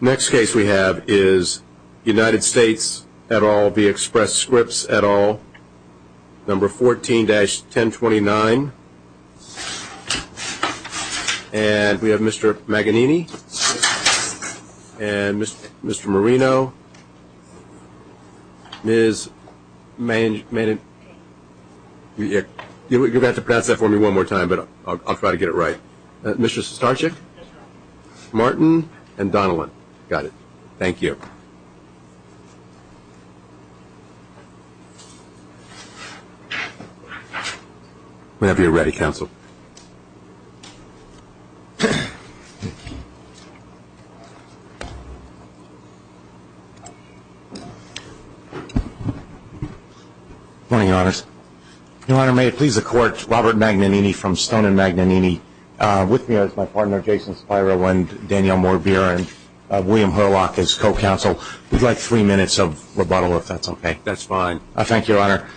Next case we have is United States, et al, v. Express Scripts, et al, number 14-1029. And we have Mr. Maganini and Mr. Marino. Ms. Manag... You're going to have to pronounce that for me one more time, but I'll try to get it right. Mr. Starczyk, Martin, and Donilon. Got it. Thank you. Whenever you're ready, Counsel. Your Honor, may it please the Court, Robert Maganini from Stone and Maganini. With me is my partner, Jason Spiro, and Danielle Morbier, and William Herlock is co-counsel. We'd like three minutes of rebuttal, if that's okay. That's fine. Thank you, Your Honor.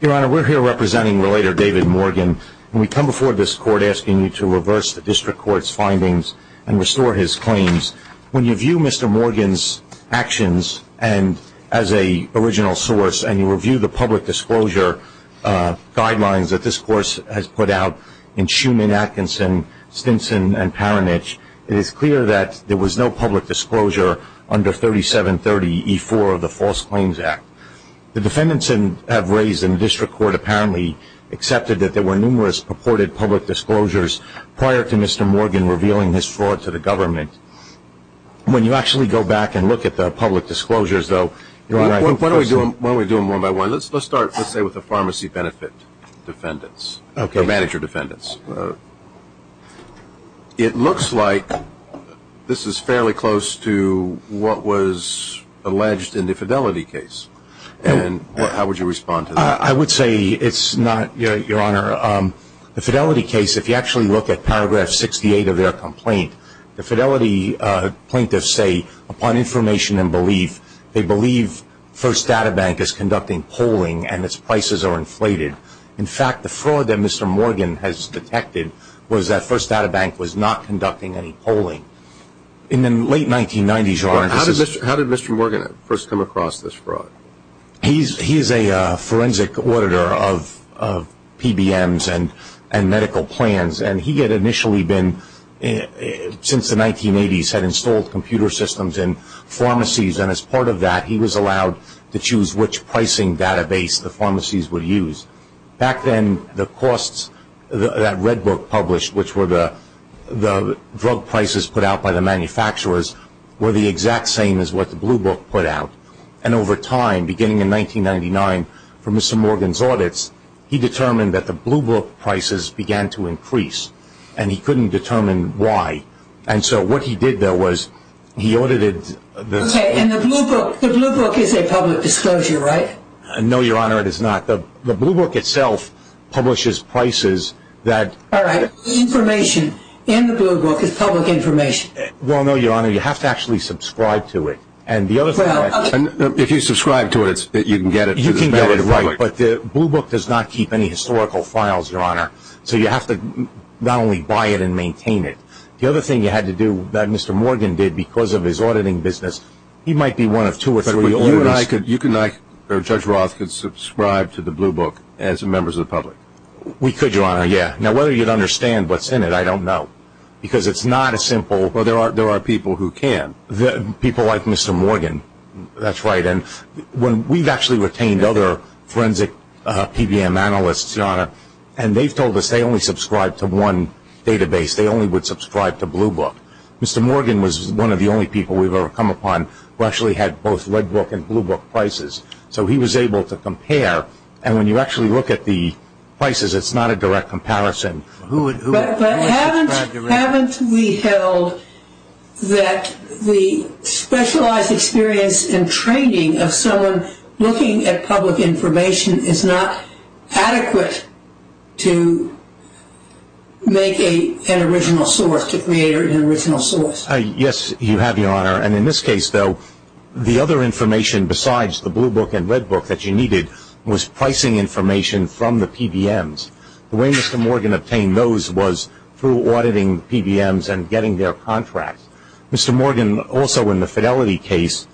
Your Honor, we're here representing Relator David Morgan. We come before this Court asking you to reverse the District Court's findings and restore his claims. When you view Mr. Morgan's actions as an original source, and you review the public disclosure guidelines that this Course has put out in Schuman, Atkinson, Stinson, and Paranich, it is clear that there was no public disclosure under 3730E4 of the False Claims Act. The defendants have raised in the District Court apparently accepted that there were numerous purported public disclosures prior to Mr. Morgan revealing this fraud to the government. When you actually go back and look at the public disclosures, though, you're right. Why don't we do them one by one? Let's start, let's say, with the pharmacy benefit defendants, or manager defendants. It looks like this is fairly close to what was alleged in the Fidelity case, and how would you respond to that? I would say it's not, Your Honor. The Fidelity case, if you actually look at paragraph 68 of their complaint, the Fidelity plaintiffs say, upon information and belief, they believe First Data Bank is conducting polling and its prices are inflated. In fact, the fraud that Mr. Morgan has detected was that First Data Bank was not conducting any polling. In the late 1990s, Your Honor, this is- How did Mr. Morgan first come across this fraud? He is a forensic auditor of PBMs and medical plans, and he had initially been, since the 1980s, had installed computer systems in pharmacies, and as part of that, he was allowed to choose which pricing database the pharmacies would use. Back then, the costs that Red Book published, which were the drug prices put out by the manufacturers, were the exact same as what the Blue Book put out. And over time, beginning in 1999, from Mr. Morgan's audits, he determined that the Blue Book prices began to increase, and he couldn't determine why. And so what he did, though, was he audited- Okay, and the Blue Book is a public disclosure, right? No, Your Honor, it is not. The Blue Book itself publishes prices that- All right. The information in the Blue Book is public information. Well, no, Your Honor. You have to actually subscribe to it. And the other thing- If you subscribe to it, you can get it- You can get it, right, but the Blue Book does not keep any historical files, Your Honor, so you have to not only buy it and maintain it. The other thing you had to do that Mr. Morgan did because of his auditing business, he might be one of two or three- But you and I could- Judge Roth could subscribe to the Blue Book as members of the public. We could, Your Honor, yeah. Now, whether you'd understand what's in it, I don't know, because it's not a simple- Well, there are people who can. People like Mr. Morgan. That's right. And we've actually retained other forensic PBM analysts, Your Honor, and they've told us they only subscribe to one database. They only would subscribe to Blue Book. Mr. Morgan was one of the only people we've ever come upon who actually had both Red Book and Blue Book prices, so he was able to compare. And when you actually look at the prices, it's not a direct comparison. But haven't we held that the specialized experience and training of someone looking at public information is not adequate to make an original source, to create an original source? Yes, you have, Your Honor, and in this case, though, the other information besides the Blue Book and Red Book that you needed was pricing information from the PBMs. The way Mr. Morgan obtained those was through auditing PBMs and getting their contracts. Mr. Morgan also, in the Fidelity case,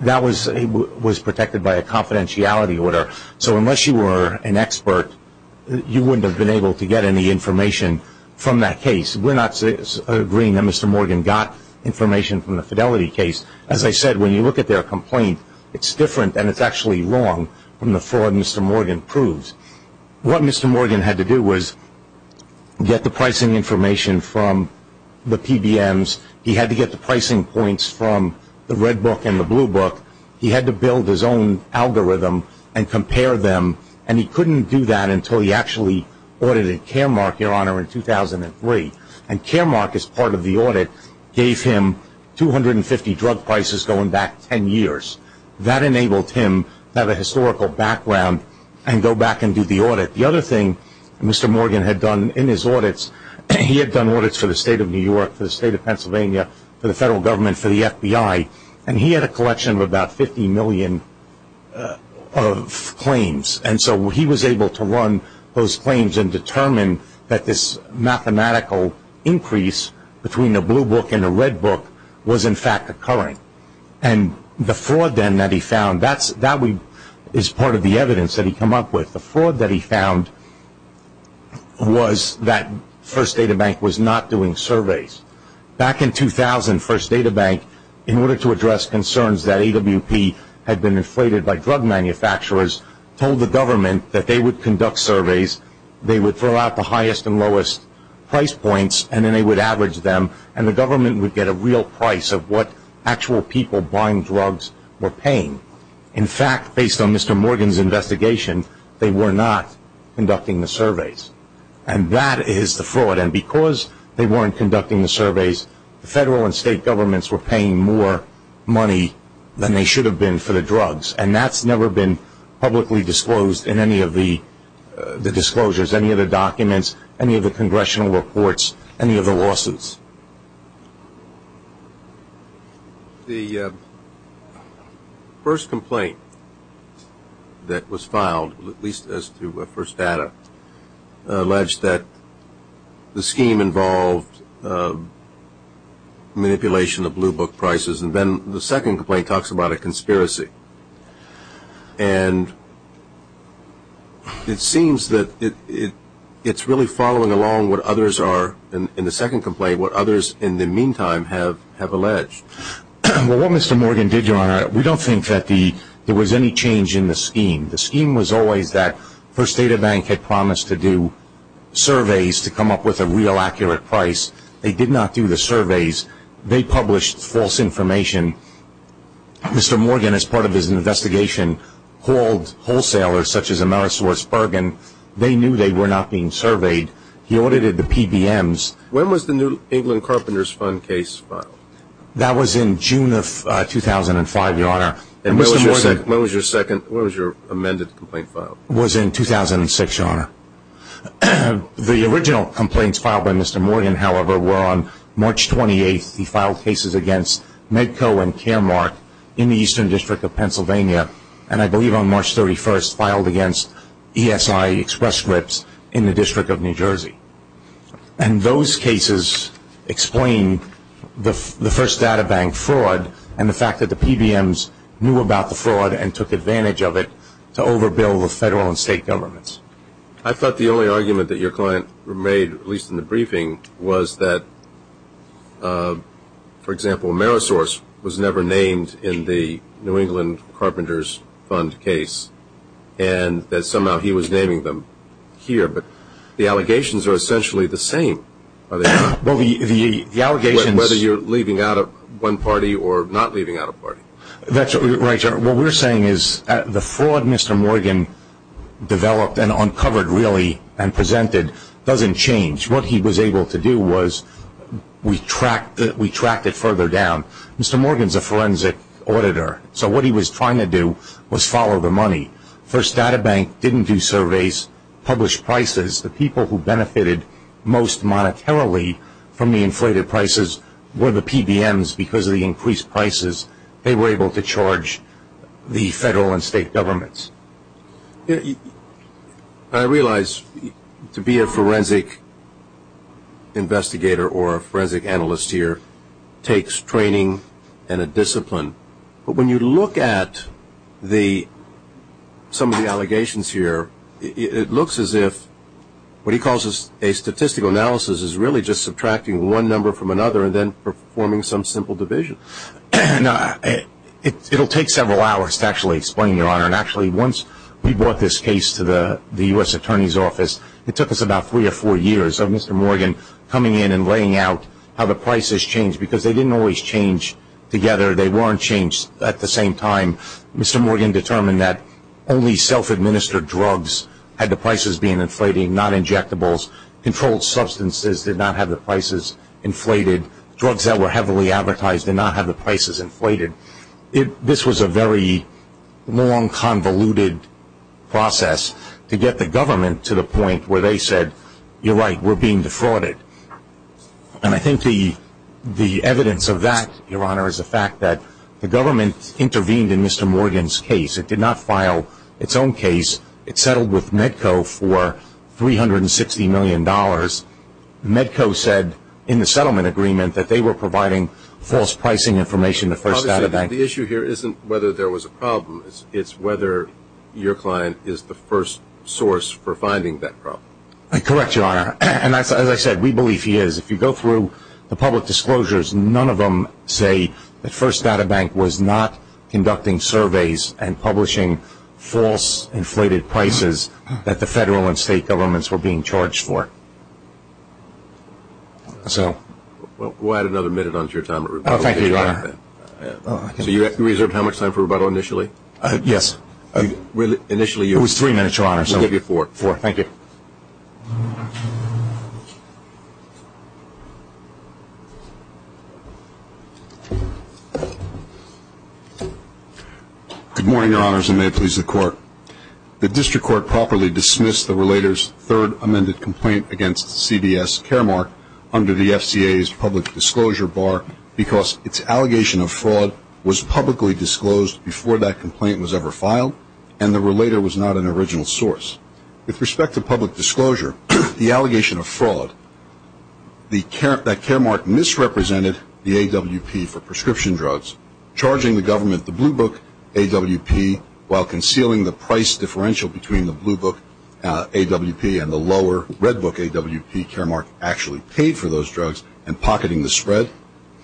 that was protected by a confidentiality order. So unless you were an expert, you wouldn't have been able to get any information from that case. We're not agreeing that Mr. Morgan got information from the Fidelity case. As I said, when you look at their complaint, it's different and it's actually wrong from the fraud Mr. Morgan proves. What Mr. Morgan had to do was get the pricing information from the PBMs. He had to get the pricing points from the Red Book and the Blue Book. He had to build his own algorithm and compare them, and he couldn't do that until he actually audited Caremark, Your Honor, in 2003. And Caremark, as part of the audit, gave him 250 drug prices going back 10 years. That enabled him to have a historical background and go back and do the audit. The other thing Mr. Morgan had done in his audits, he had done audits for the state of New York, for the state of Pennsylvania, for the federal government, for the FBI, and he had a collection of about 50 million of claims. And so he was able to run those claims and determine that this mathematical increase between the Blue Book and the Red Book was, in fact, occurring. And the fraud then that he found, that is part of the evidence that he came up with. The fraud that he found was that First Data Bank was not doing surveys. Back in 2000, First Data Bank, in order to address concerns that AWP had been inflated by drug manufacturers, told the government that they would conduct surveys, they would throw out the highest and lowest price points, and then they would average them, and the government would get a real price of what actual people buying drugs were paying. In fact, based on Mr. Morgan's investigation, they were not conducting the surveys. And that is the fraud. And because they weren't conducting the surveys, the federal and state governments were paying more money than they should have been for the drugs. And that's never been publicly disclosed in any of the disclosures, any of the documents, any of the congressional reports, any of the lawsuits. The first complaint that was filed, at least as to First Data, alleged that the scheme involved manipulation of Blue Book prices. And then the second complaint talks about a conspiracy. And it seems that it's really following along what others are, in the second complaint, what others in the meantime have alleged. Well, what Mr. Morgan did, Your Honor, we don't think that there was any change in the scheme. The scheme was always that First Data Bank had promised to do surveys to come up with a real accurate price. They did not do the surveys. They published false information. Mr. Morgan, as part of his investigation, called wholesalers such as AmerisourceBergen. They knew they were not being surveyed. He audited the PBMs. When was the New England Carpenters Fund case filed? That was in June of 2005, Your Honor. And when was your amended complaint filed? It was in 2006, Your Honor. The original complaints filed by Mr. Morgan, however, were on March 28th. He filed cases against Medco and Caremark in the Eastern District of Pennsylvania, and I believe on March 31st filed against ESI Express Scripts in the District of New Jersey. And those cases explain the First Data Bank fraud and the fact that the PBMs knew about the fraud and took advantage of it to overbill the federal and state governments. I thought the only argument that your client made, at least in the briefing, was that, for example, Amerisource was never named in the New England Carpenters Fund case and that somehow he was naming them here. But the allegations are essentially the same, are they not? Well, the allegations – Whether you're leaving out one party or not leaving out a party. That's right, Your Honor. What we're saying is the fraud Mr. Morgan developed and uncovered, really, and presented doesn't change. What he was able to do was we tracked it further down. Mr. Morgan's a forensic auditor, so what he was trying to do was follow the money. First Data Bank didn't do surveys, publish prices. The people who benefited most monetarily from the inflated prices were the PBMs. Because of the increased prices, they were able to charge the federal and state governments. I realize to be a forensic investigator or a forensic analyst here takes training and a discipline. But when you look at some of the allegations here, it looks as if what he calls a statistical analysis is really just subtracting one number from another and then performing some simple division. It'll take several hours to actually explain, Your Honor. Actually, once we brought this case to the U.S. Attorney's Office, it took us about three or four years of Mr. Morgan coming in and laying out how the prices changed. Because they didn't always change together. They weren't changed at the same time. Mr. Morgan determined that only self-administered drugs had the prices being inflated, not injectables. Controlled substances did not have the prices inflated. Drugs that were heavily advertised did not have the prices inflated. This was a very long, convoluted process to get the government to the point where they said, You're right, we're being defrauded. And I think the evidence of that, Your Honor, is the fact that the government intervened in Mr. Morgan's case. It did not file its own case. It settled with Medco for $360 million. Medco said in the settlement agreement that they were providing false pricing information to First Data Bank. Obviously, the issue here isn't whether there was a problem. It's whether your client is the first source for finding that problem. Correct, Your Honor. And as I said, we believe he is. If you go through the public disclosures, none of them say that First Data Bank was not conducting surveys and publishing false inflated prices that the federal and state governments were being charged for. We'll add another minute onto your time at rebuttal. Thank you, Your Honor. So you reserved how much time for rebuttal initially? Yes. It was three minutes, Your Honor. We'll give you four. Thank you. Good morning, Your Honors, and may it please the Court. The district court properly dismissed the relator's third amended complaint against CBS Caremark under the FCA's public disclosure bar because its allegation of fraud was publicly disclosed before that complaint was ever filed and the relator was not an original source. With respect to public disclosure, the allegation of fraud, that Caremark misrepresented the AWP for prescription drugs, charging the government the blue book AWP while concealing the price differential between the blue book AWP and the lower red book AWP Caremark actually paid for those drugs and pocketing the spread,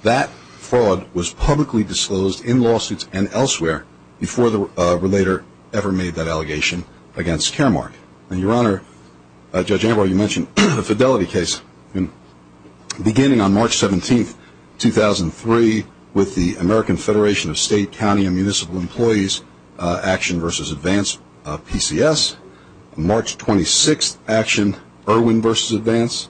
that fraud was publicly disclosed in lawsuits and elsewhere before the relator ever made that allegation against Caremark. And, Your Honor, Judge Anwar, you mentioned the Fidelity case beginning on March 17, 2003, with the American Federation of State, County, and Municipal Employees action versus advance PCS, March 26th action, Irwin versus advance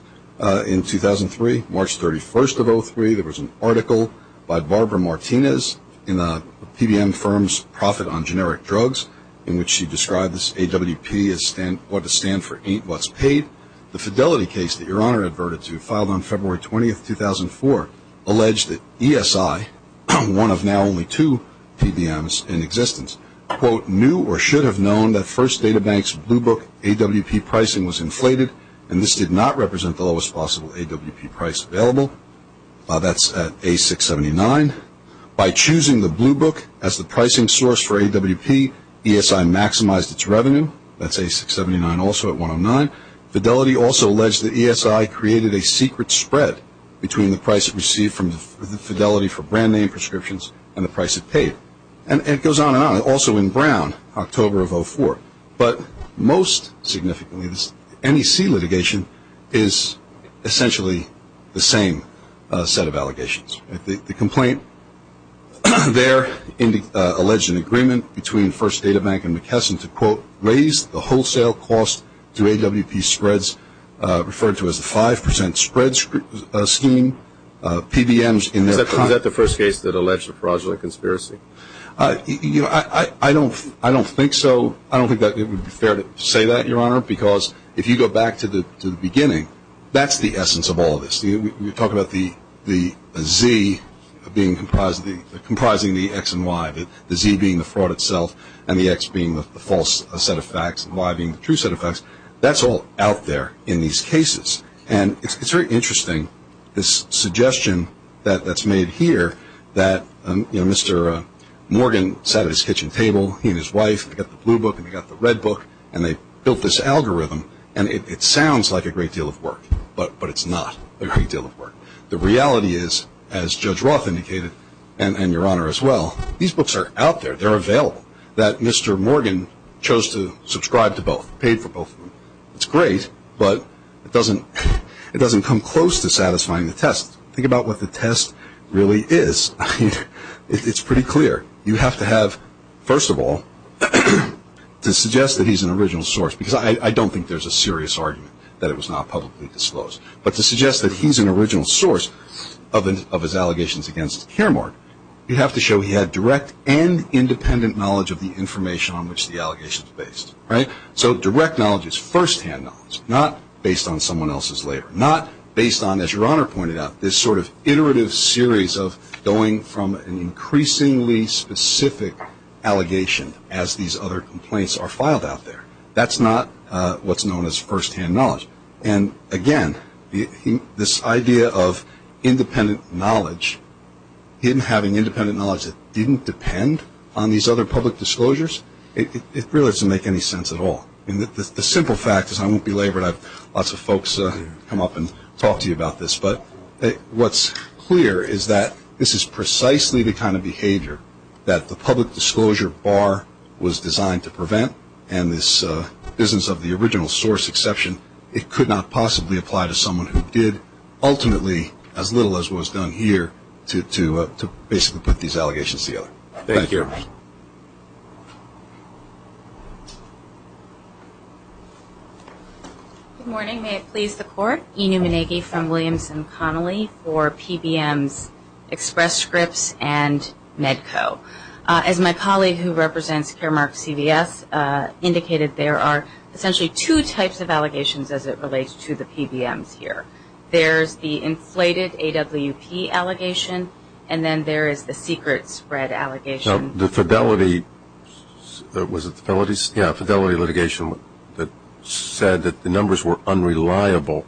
in 2003, March 31st of 2003, there was an article by Barbara Martinez in the PBM firm's profit on generic drugs in which she described this AWP as what to stand for ain't what's paid. The Fidelity case that Your Honor adverted to filed on February 20, 2004, alleged that ESI, one of now only two PBMs in existence, quote, knew or should have known that First Data Bank's blue book AWP pricing was inflated and this did not represent the lowest possible AWP price available. That's at A679. By choosing the blue book as the pricing source for AWP, ESI maximized its revenue. That's A679 also at 109. Fidelity also alleged that ESI created a secret spread between the price it received from the Fidelity for brand name prescriptions and the price it paid. And it goes on and on. Also in Brown, October of 2004. But most significantly, this NEC litigation is essentially the same set of allegations. The complaint there alleged an agreement between First Data Bank and McKesson to, quote, raise the wholesale cost to AWP spreads referred to as the 5% spread scheme. Was that the first case that alleged a fraudulent conspiracy? I don't think so. I don't think it would be fair to say that, Your Honor, because if you go back to the beginning, that's the essence of all this. We talk about the Z comprising the X and Y, the Z being the fraud itself and the X being the false set of facts and the Y being the true set of facts. That's all out there in these cases. And it's very interesting, this suggestion that's made here that, you know, Mr. Morgan sat at his kitchen table, he and his wife, they got the blue book and they got the red book, and they built this algorithm. And it sounds like a great deal of work, but it's not a great deal of work. The reality is, as Judge Roth indicated and Your Honor as well, these books are out there. They're available. That Mr. Morgan chose to subscribe to both, paid for both of them. It's great, but it doesn't come close to satisfying the test. Think about what the test really is. It's pretty clear. You have to have, first of all, to suggest that he's an original source, because I don't think there's a serious argument that it was not publicly disclosed. But to suggest that he's an original source of his allegations against Kiermaier, you have to show he had direct and independent knowledge of the information on which the allegations are based. So direct knowledge is firsthand knowledge, not based on someone else's labor, not based on, as Your Honor pointed out, this sort of iterative series of going from an increasingly specific allegation as these other complaints are filed out there. That's not what's known as firsthand knowledge. And, again, this idea of independent knowledge, him having independent knowledge that didn't depend on these other public disclosures, it really doesn't make any sense at all. The simple fact is I won't be labored. I have lots of folks come up and talk to you about this. But what's clear is that this is precisely the kind of behavior that the public disclosure bar was designed to prevent, and this business of the original source exception, it could not possibly apply to someone who did, ultimately, as little as was done here, to basically put these allegations together. Thank you. Good morning. May it please the Court. E. Newman Agee from Williamson Connolly for PBM's Express Scripts and Medco. As my colleague who represents Caremark CVS indicated, there are essentially two types of allegations as it relates to the PBMs here. There's the inflated AWP allegation, and then there is the secret spread allegation. Now, the fidelity litigation that said that the numbers were unreliable,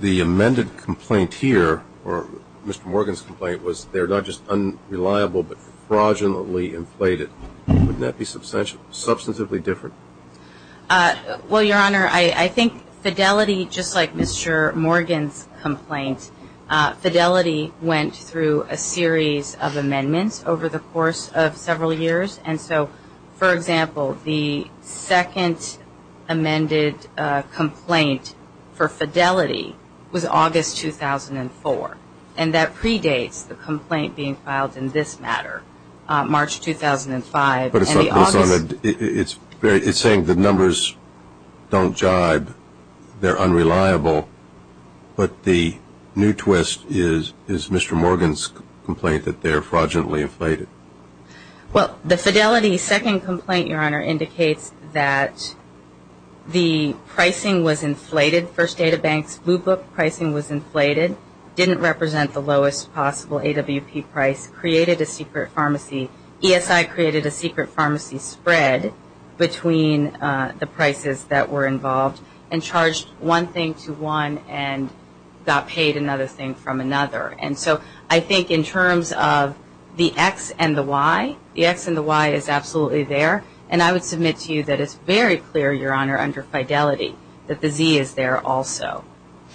the amended complaint here, or Mr. Morgan's complaint, was they're not just unreliable but fraudulently inflated. Wouldn't that be substantively different? Well, Your Honor, I think fidelity, just like Mr. Morgan's complaint, fidelity went through a series of amendments over the course of several years. And so, for example, the second amended complaint for fidelity was August 2004, and that predates the complaint being filed in this matter, March 2005. It's saying the numbers don't jibe, they're unreliable, but the new twist is Mr. Morgan's complaint that they're fraudulently inflated. Well, the fidelity second complaint, Your Honor, indicates that the pricing was inflated. First Data Bank's blue book pricing was inflated, didn't represent the lowest possible AWP price, created a secret pharmacy. ESI created a secret pharmacy spread between the prices that were involved and charged one thing to one and got paid another thing from another. And so I think in terms of the X and the Y, the X and the Y is absolutely there. And I would submit to you that it's very clear, Your Honor, under fidelity, that the Z is there also.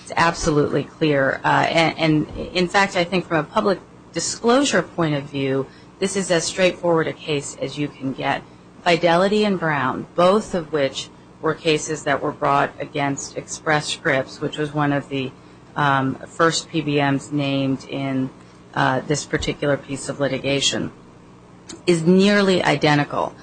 It's absolutely clear. In fact, I think from a public disclosure point of view, this is as straightforward a case as you can get. Fidelity and Brown, both of which were cases that were brought against Express Scripts, which was one of the first PBMs named in this particular piece of litigation, is nearly identical.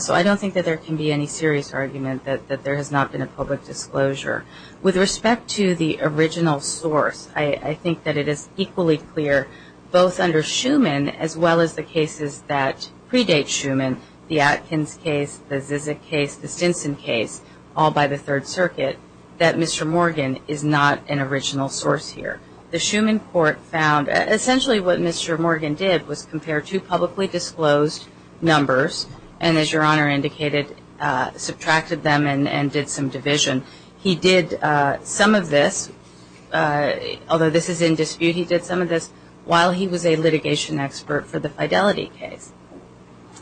So I don't think that there can be any serious argument that there has not been a public disclosure. With respect to the original source, I think that it is equally clear both under Schuman as well as the cases that predate Schuman, the Atkins case, the Zizek case, the Stinson case, all by the Third Circuit, that Mr. Morgan is not an original source here. The Schuman court found essentially what Mr. Morgan did was compare two publicly disclosed numbers and, as Your Honor indicated, subtracted them and did some division. He did some of this, although this is in dispute, he did some of this while he was a litigation expert for the Fidelity case.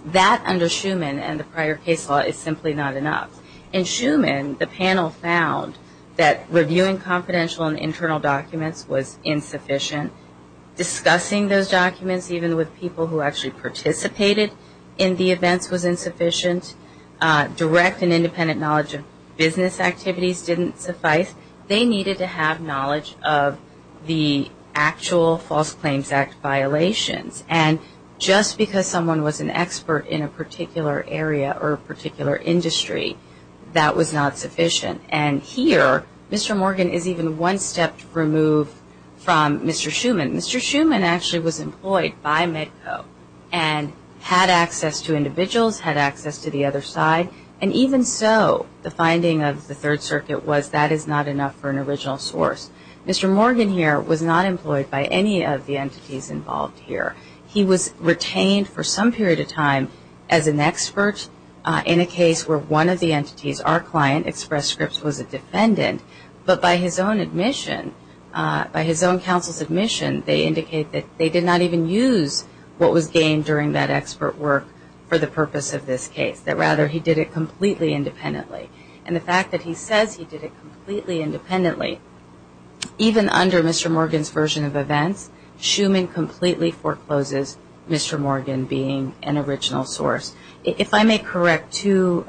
That under Schuman and the prior case law is simply not enough. In Schuman, the panel found that reviewing confidential and internal documents was insufficient. Discussing those documents, even with people who actually participated in the events, was insufficient. Direct and independent knowledge of business activities didn't suffice. They needed to have knowledge of the actual False Claims Act violations. And just because someone was an expert in a particular area or a particular industry, that was not sufficient. And here, Mr. Morgan is even one step removed from Mr. Schuman. Mr. Schuman actually was employed by Medco and had access to individuals, had access to the other side, and even so, the finding of the Third Circuit was that is not enough for an original source. Mr. Morgan here was not employed by any of the entities involved here. He was retained for some period of time as an expert in a case where one of the entities, our client, Express Scripts, was a defendant. But by his own admission, by his own counsel's admission, they indicate that they did not even use what was gained during that expert work for the purpose of this case. Rather, he did it completely independently. And the fact that he says he did it completely independently, even under Mr. Morgan's version of events, Schuman completely forecloses Mr. Morgan being an original source. If I may correct two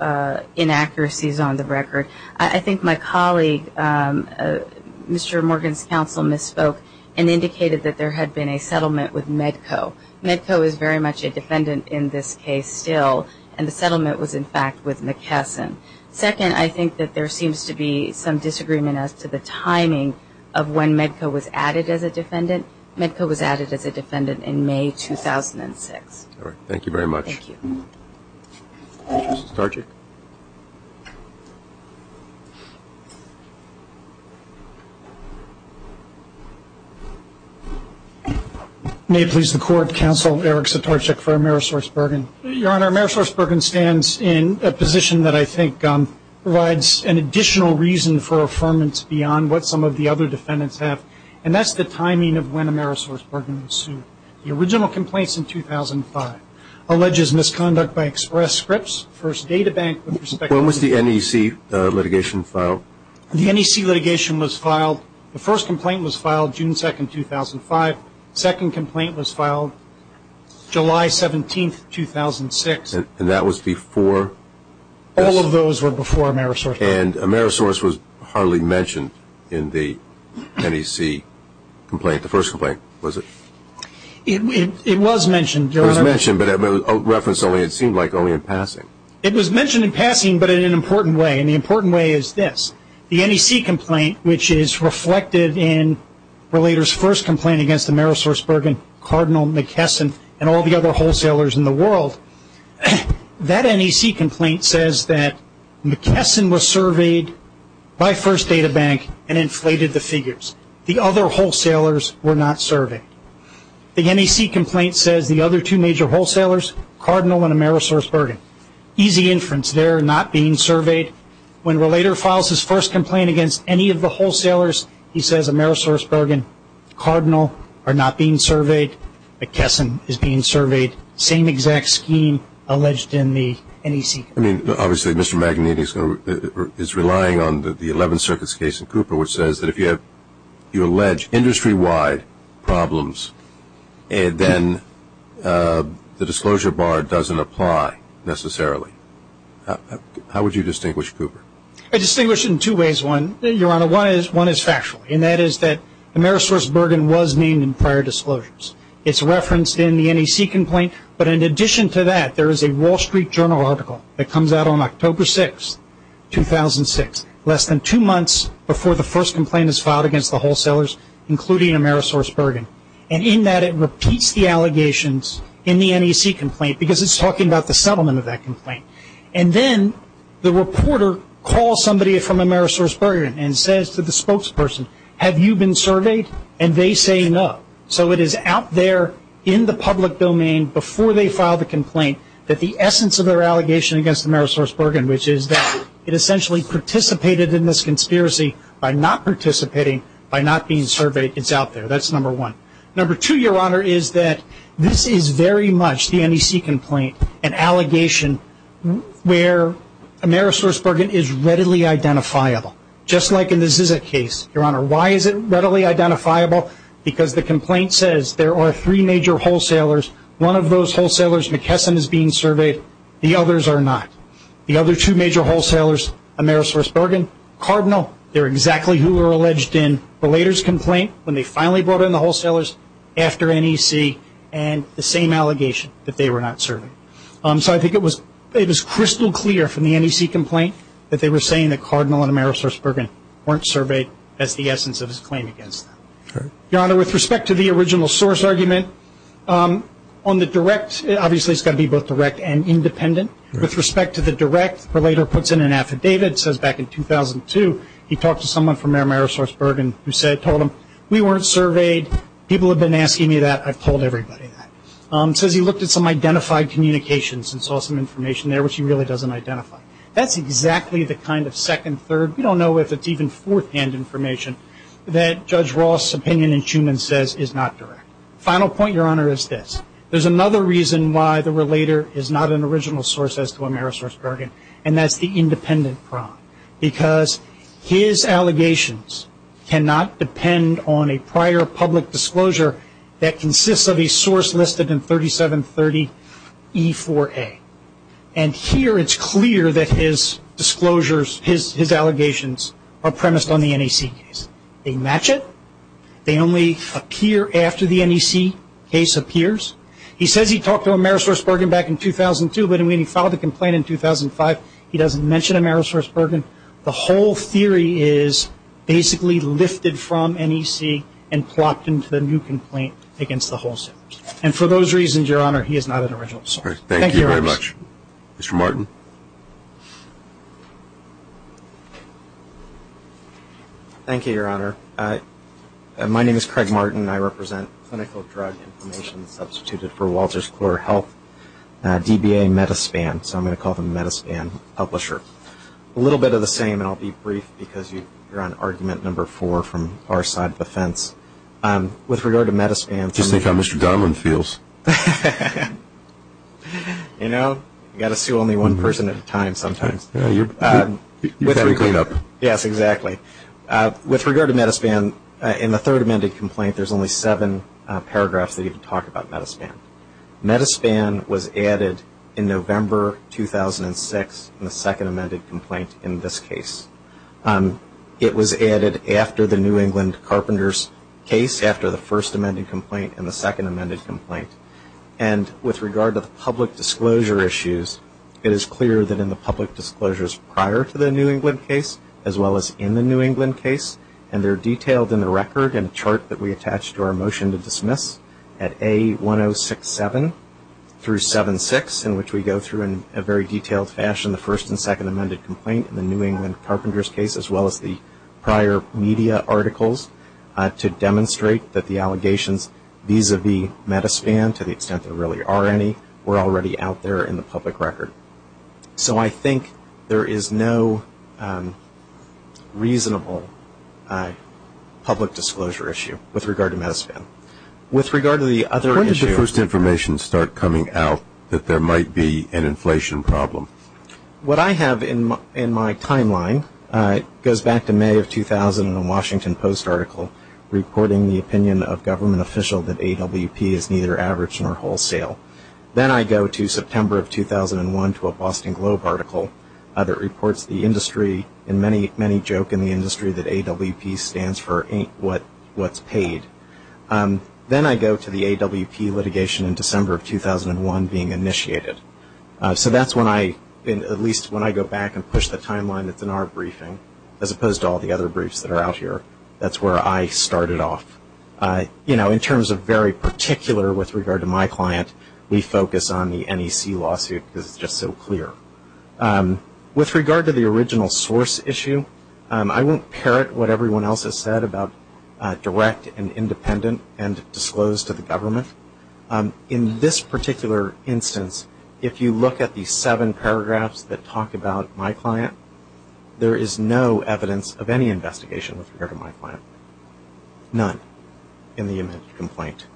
inaccuracies on the record, I think my colleague, Mr. Morgan's counsel, misspoke and indicated that there had been a settlement with Medco. Medco is very much a defendant in this case still, and the settlement was, in fact, with McKesson. Second, I think that there seems to be some disagreement as to the timing of when Medco was added as a defendant. Medco was added as a defendant in May 2006. All right. Thank you very much. Thank you. Mr. Sitarczyk. May it please the Court, Counsel Eric Sitarczyk for AmerisourceBergen. Your Honor, AmerisourceBergen stands in a position that I think provides an additional reason for affirmance beyond what some of the other defendants have, and that's the timing of when AmerisourceBergen was sued. The original complaint is in 2005. Alleges misconduct by Express Scripts, First Data Bank with respect to the When was the NEC litigation filed? The NEC litigation was filed. The first complaint was filed June 2, 2005. The second complaint was filed July 17, 2006. And that was before this? All of those were before AmerisourceBergen. And Amerisource was hardly mentioned in the NEC complaint, the first complaint, was it? It was mentioned, Your Honor. It was mentioned, but referenced only, it seemed like, only in passing. It was mentioned in passing but in an important way, and the important way is this. The NEC complaint, which is reflected in Relator's first complaint against AmerisourceBergen, Cardinal McKesson, and all the other wholesalers in the world, that NEC complaint says that McKesson was surveyed by First Data Bank and inflated the figures. The other wholesalers were not surveyed. The NEC complaint says the other two major wholesalers, Cardinal and AmerisourceBergen. Easy inference there, not being surveyed. When Relator files his first complaint against any of the wholesalers, he says AmerisourceBergen, Cardinal are not being surveyed, McKesson is being surveyed. Same exact scheme alleged in the NEC. I mean, obviously, Mr. Magnetti is relying on the 11th Circuit's case in Cooper, which says that if you allege industry-wide problems, then the disclosure bar doesn't apply necessarily. How would you distinguish Cooper? I'd distinguish it in two ways, Your Honor. One is factual, and that is that AmerisourceBergen was named in prior disclosures. It's referenced in the NEC complaint. But in addition to that, there is a Wall Street Journal article that comes out on October 6, 2006, less than two months before the first complaint is filed against the wholesalers, including AmerisourceBergen. And in that, it repeats the allegations in the NEC complaint, because it's talking about the settlement of that complaint. And then the reporter calls somebody from AmerisourceBergen and says to the spokesperson, have you been surveyed? And they say no. So it is out there in the public domain before they file the complaint that the essence of their allegation against AmerisourceBergen, which is that it essentially participated in this conspiracy by not participating, by not being surveyed, it's out there. That's number one. Number two, Your Honor, is that this is very much the NEC complaint, an allegation where AmerisourceBergen is readily identifiable, just like in the Zizek case. Your Honor, why is it readily identifiable? Because the complaint says there are three major wholesalers. One of those wholesalers, McKesson, is being surveyed. The others are not. The other two major wholesalers, AmerisourceBergen, Cardinal, they're exactly who were alleged in Belaiter's complaint when they finally brought in the wholesalers after NEC, and the same allegation that they were not surveyed. So I think it was crystal clear from the NEC complaint that they were saying that Cardinal and AmerisourceBergen weren't surveyed. That's the essence of his claim against them. Your Honor, with respect to the original source argument, on the direct, obviously it's got to be both direct and independent. With respect to the direct, Belaiter puts in an affidavit, it says back in 2002 he talked to someone from AmerisourceBergen who said, told him, we weren't surveyed. People have been asking me that. I've told everybody that. It says he looked at some identified communications and saw some information there which he really doesn't identify. That's exactly the kind of second, third, we don't know if it's even fourth-hand information that Judge Ross' opinion in Schuman says is not direct. Final point, Your Honor, is this. There's another reason why the Belaiter is not an original source as to AmerisourceBergen, and that's the independent crime, because his allegations cannot depend on a prior public disclosure that consists of a source listed in 3730 E4A. And here it's clear that his disclosures, his allegations, are premised on the NEC case. They match it. They only appear after the NEC case appears. He says he talked to AmerisourceBergen back in 2002, but when he filed the complaint in 2005, he doesn't mention AmerisourceBergen. The whole theory is basically lifted from NEC and plopped into the new complaint against the wholesalers. And for those reasons, Your Honor, he is not an original source. All right. Thank you very much. Mr. Martin. Thank you, Your Honor. My name is Craig Martin. I represent Clinical Drug Information Substituted for Walters Clore Health, DBA Metaspan. So I'm going to call them Metaspan Publisher. A little bit of the same, and I'll be brief because you're on argument number four from our side of the fence. With regard to Metaspan, Just think how Mr. Dunlap feels. You know, you've got to sue only one person at a time sometimes. You've got to clean up. Yes, exactly. With regard to Metaspan, in the third amended complaint, there's only seven paragraphs that even talk about Metaspan. Metaspan was added in November 2006 in the second amended complaint in this case. It was added after the New England Carpenters case, after the first amended complaint and the second amended complaint. And with regard to the public disclosure issues, it is clear that in the public disclosures prior to the New England case as well as in the New England case, and they're detailed in the record and chart that we attach to our motion to dismiss at A1067 through 76, in which we go through in a very detailed fashion the first and second amended complaint in the New England Carpenters case as well as the prior media articles to demonstrate that the allegations vis-a-vis Metaspan, to the extent there really are any, were already out there in the public record. So I think there is no reasonable public disclosure issue with regard to Metaspan. With regard to the other issue. When did the first information start coming out that there might be an inflation problem? What I have in my timeline goes back to May of 2000 in a Washington Post article reporting the opinion of government official that AWP is neither average nor wholesale. Then I go to September of 2001 to a Boston Globe article that reports the industry and many joke in the industry that AWP stands for what's paid. Then I go to the AWP litigation in December of 2001 being initiated. So that's when I, at least when I go back and push the timeline that's in our briefing, as opposed to all the other briefs that are out here, that's where I started off. You know, in terms of very particular with regard to my client, we focus on the NEC lawsuit because it's just so clear. With regard to the original source issue, I won't parrot what everyone else has said about direct and independent and disclosed to the government. In this particular instance, if you look at the seven paragraphs that talk about my client, there is no evidence of any investigation with regard to my client. None in the image complaint.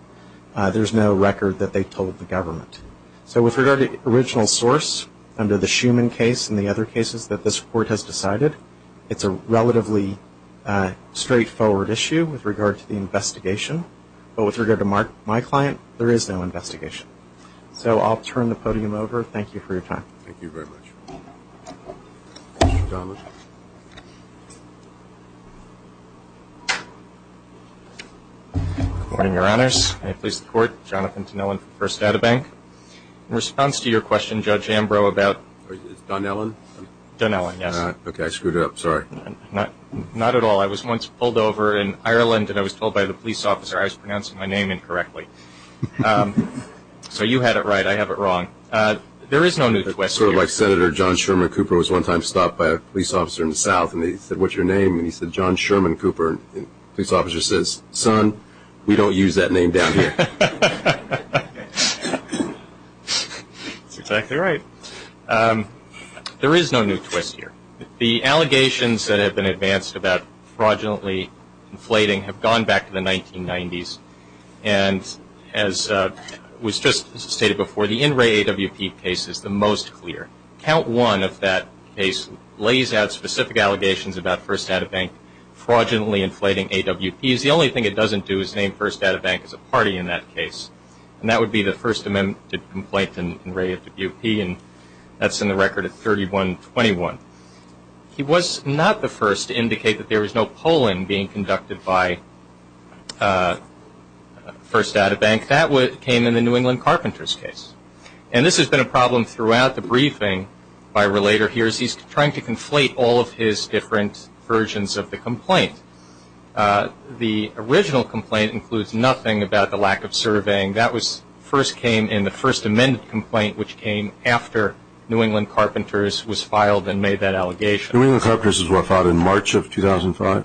There's no record that they told the government. So with regard to the original source under the Schuman case and the other cases that this court has decided, there is no investigation. But with regard to my client, there is no investigation. So I'll turn the podium over. Thank you for your time. Thank you very much. Mr. Donnellan. Good morning, Your Honors. May it please the Court. Jonathan Donnellan from First Data Bank. In response to your question, Judge Ambrose, about – Is it Donnellan? Donnellan, yes. Okay. I screwed it up. Sorry. Not at all. I was once pulled over in Ireland, and I was told by the police officer I was pronouncing my name incorrectly. So you had it right. I have it wrong. There is no new twist here. Sort of like Senator John Sherman Cooper was one time stopped by a police officer in the south, and he said, What's your name? And he said, John Sherman Cooper. And the police officer says, Son, we don't use that name down here. That's exactly right. There is no new twist here. The allegations that have been advanced about fraudulently inflating have gone back to the 1990s. And as was just stated before, the In Re AWP case is the most clear. Count one of that case lays out specific allegations about First Data Bank fraudulently inflating AWPs. The only thing it doesn't do is name First Data Bank as a party in that case, and that would be the First Amendment complaint in In Re AWP, and that's in the record at 3121. He was not the first to indicate that there was no polling being conducted by First Data Bank. That came in the New England Carpenters case. And this has been a problem throughout the briefing by a relator here, as he's trying to conflate all of his different versions of the complaint. The original complaint includes nothing about the lack of surveying. That first came in the First Amendment complaint, which came after New England Carpenters was filed and made that allegation. New England Carpenters was filed in March of 2005?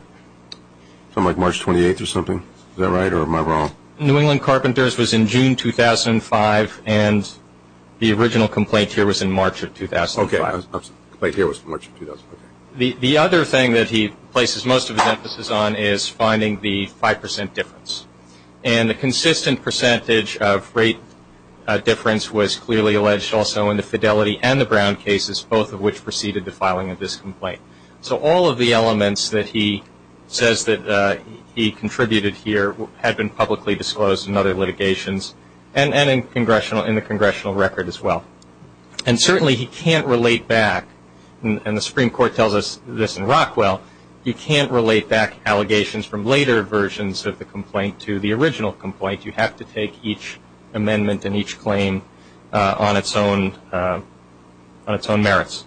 Something like March 28th or something? Is that right, or am I wrong? New England Carpenters was in June 2005, and the original complaint here was in March of 2005. Okay. The complaint here was March of 2005. The other thing that he places most of his emphasis on is finding the 5% difference. And the consistent percentage of rate difference was clearly alleged also in the Fidelity and the Brown cases, both of which preceded the filing of this complaint. So all of the elements that he says that he contributed here had been publicly disclosed in other litigations and in the congressional record as well. And certainly he can't relate back, and the Supreme Court tells us this in Rockwell, you can't relate back allegations from later versions of the complaint to the original complaint. You have to take each amendment and each claim on its own merits.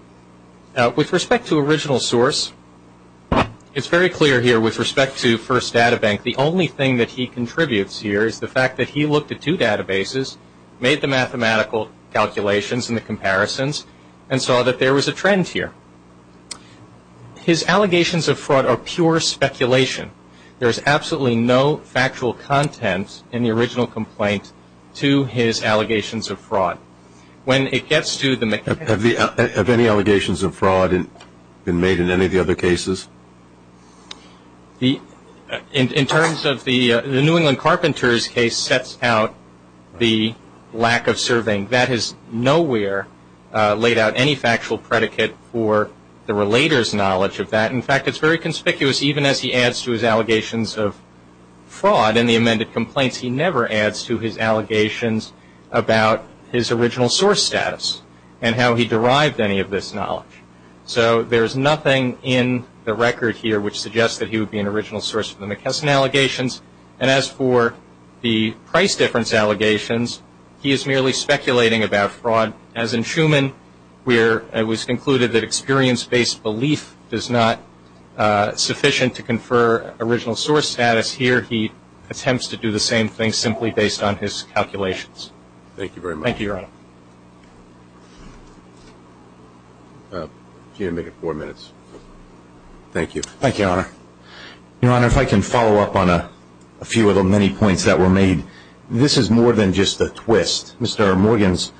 With respect to original source, it's very clear here with respect to First Data Bank, the only thing that he contributes here is the fact that he looked at two databases, made the mathematical calculations and the comparisons, and saw that there was a trend here. His allegations of fraud are pure speculation. There is absolutely no factual content in the original complaint to his allegations of fraud. When it gets to the mechanics of it. Have any allegations of fraud been made in any of the other cases? In terms of the New England Carpenters case sets out the lack of surveying. That has nowhere laid out any factual predicate for the relator's knowledge of that. In fact, it's very conspicuous even as he adds to his allegations of fraud in the amended complaints, he never adds to his allegations about his original source status and how he derived any of this knowledge. So there is nothing in the record here which suggests that he would be an original source for the McKesson allegations. And as for the price difference allegations, he is merely speculating about fraud. As in Schuman, where it was concluded that experience-based belief is not sufficient to confer original source status, here he attempts to do the same thing simply based on his calculations. Thank you, Your Honor. You're going to make it four minutes. Thank you. Thank you, Your Honor. Your Honor, if I can follow up on a few of the many points that were made. This is more than just a twist. Mr. Morgan's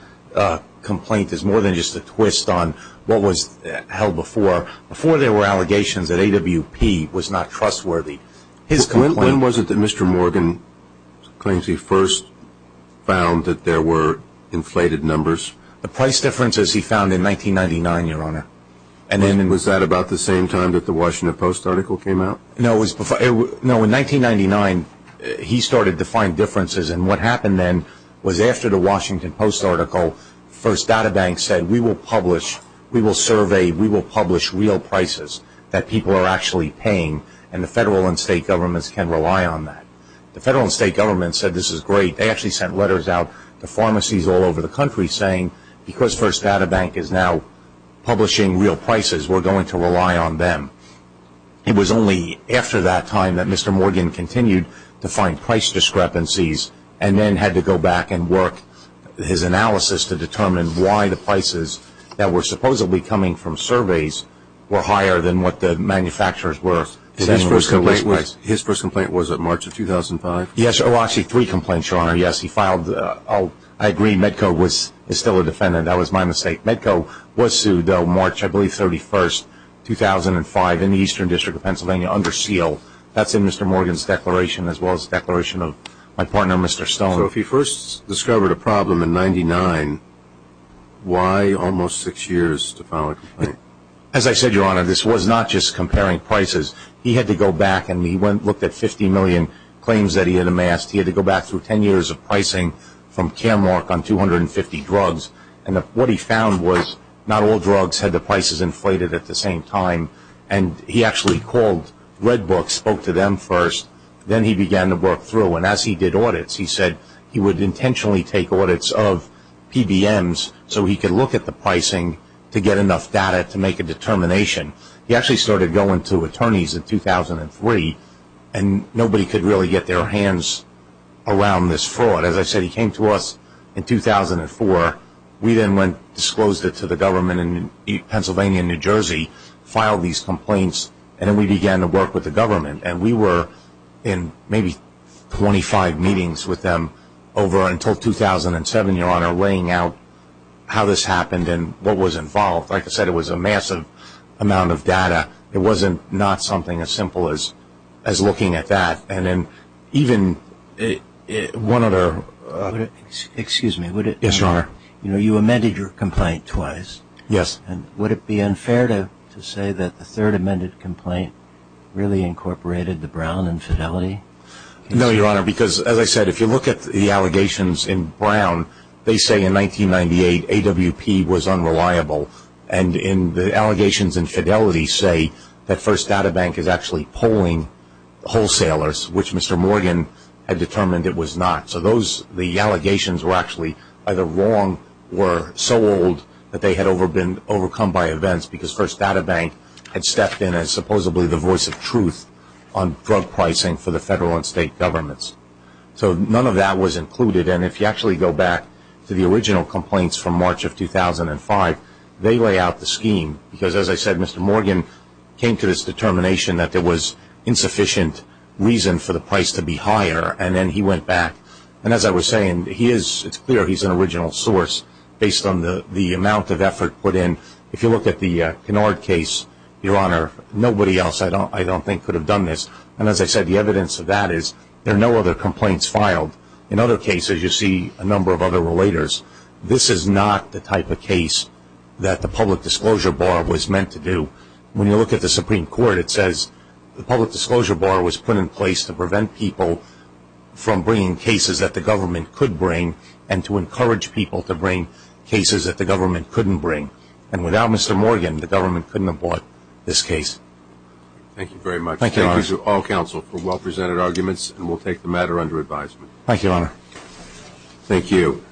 complaint is more than just a twist on what was held before. Before there were allegations that AWP was not trustworthy. When was it that Mr. Morgan claims he first found that there were inflated numbers? The price differences he found in 1999, Your Honor. Was that about the same time that the Washington Post article came out? No, in 1999 he started to find differences. And what happened then was after the Washington Post article, First Data Bank said, we will publish, we will survey, we will publish real prices that people are actually paying. And the federal and state governments can rely on that. The federal and state governments said this is great. They actually sent letters out to pharmacies all over the country saying, because First Data Bank is now publishing real prices, we're going to rely on them. It was only after that time that Mr. Morgan continued to find price discrepancies and then had to go back and work his analysis to determine why the prices that were supposedly coming from surveys were higher than what the manufacturers were. His first complaint was in March of 2005? Yes, actually three complaints, Your Honor. Yes, he filed, I agree, Medco is still a defendant. That was my mistake. Medco was sued, though, March, I believe, 31st, 2005 in the Eastern District of Pennsylvania under seal. That's in Mr. Morgan's declaration as well as the declaration of my partner, Mr. Stone. So if he first discovered a problem in 1999, why almost six years to file a complaint? As I said, Your Honor, this was not just comparing prices. He had to go back and he looked at 50 million claims that he had amassed. He had to go back through ten years of pricing from Caremark on 250 drugs. And what he found was not all drugs had the prices inflated at the same time. And he actually called, read books, spoke to them first. Then he began to work through. And as he did audits, he said he would intentionally take audits of PBMs so he could look at the pricing to get enough data to make a determination. He actually started going to attorneys in 2003. And nobody could really get their hands around this fraud. As I said, he came to us in 2004. We then went and disclosed it to the government in Pennsylvania and New Jersey, filed these complaints, and then we began to work with the government. And we were in maybe 25 meetings with them over until 2007, Your Honor, laying out how this happened and what was involved. Like I said, it was a massive amount of data. It wasn't not something as simple as looking at that. And then even one other ---- Excuse me. Yes, Your Honor. You amended your complaint twice. Yes. And would it be unfair to say that the third amended complaint really incorporated the Brown infidelity? No, Your Honor, because as I said, if you look at the allegations in Brown, they say in 1998 AWP was unreliable. And the allegations in fidelity say that First Data Bank is actually polling wholesalers, which Mr. Morgan had determined it was not. So the allegations were actually either wrong or so old that they had been overcome by events because First Data Bank had stepped in as supposedly the voice of truth on drug pricing for the federal and state governments. So none of that was included. And if you actually go back to the original complaints from March of 2005, they lay out the scheme because, as I said, Mr. Morgan came to this determination that there was insufficient reason for the price to be higher. And then he went back. And as I was saying, it's clear he's an original source based on the amount of effort put in. If you look at the Kennard case, Your Honor, nobody else I don't think could have done this. And as I said, the evidence of that is there are no other complaints filed. In other cases, you see a number of other relators. This is not the type of case that the public disclosure bar was meant to do. When you look at the Supreme Court, it says the public disclosure bar was put in place to prevent people from bringing cases that the government could bring and to encourage people to bring cases that the government couldn't bring. And without Mr. Morgan, the government couldn't have bought this case. Thank you very much. Thank you, Your Honor. Thank you to all counsel for well-presented arguments. And we'll take the matter under advisement. Thank you, Your Honor. Thank you.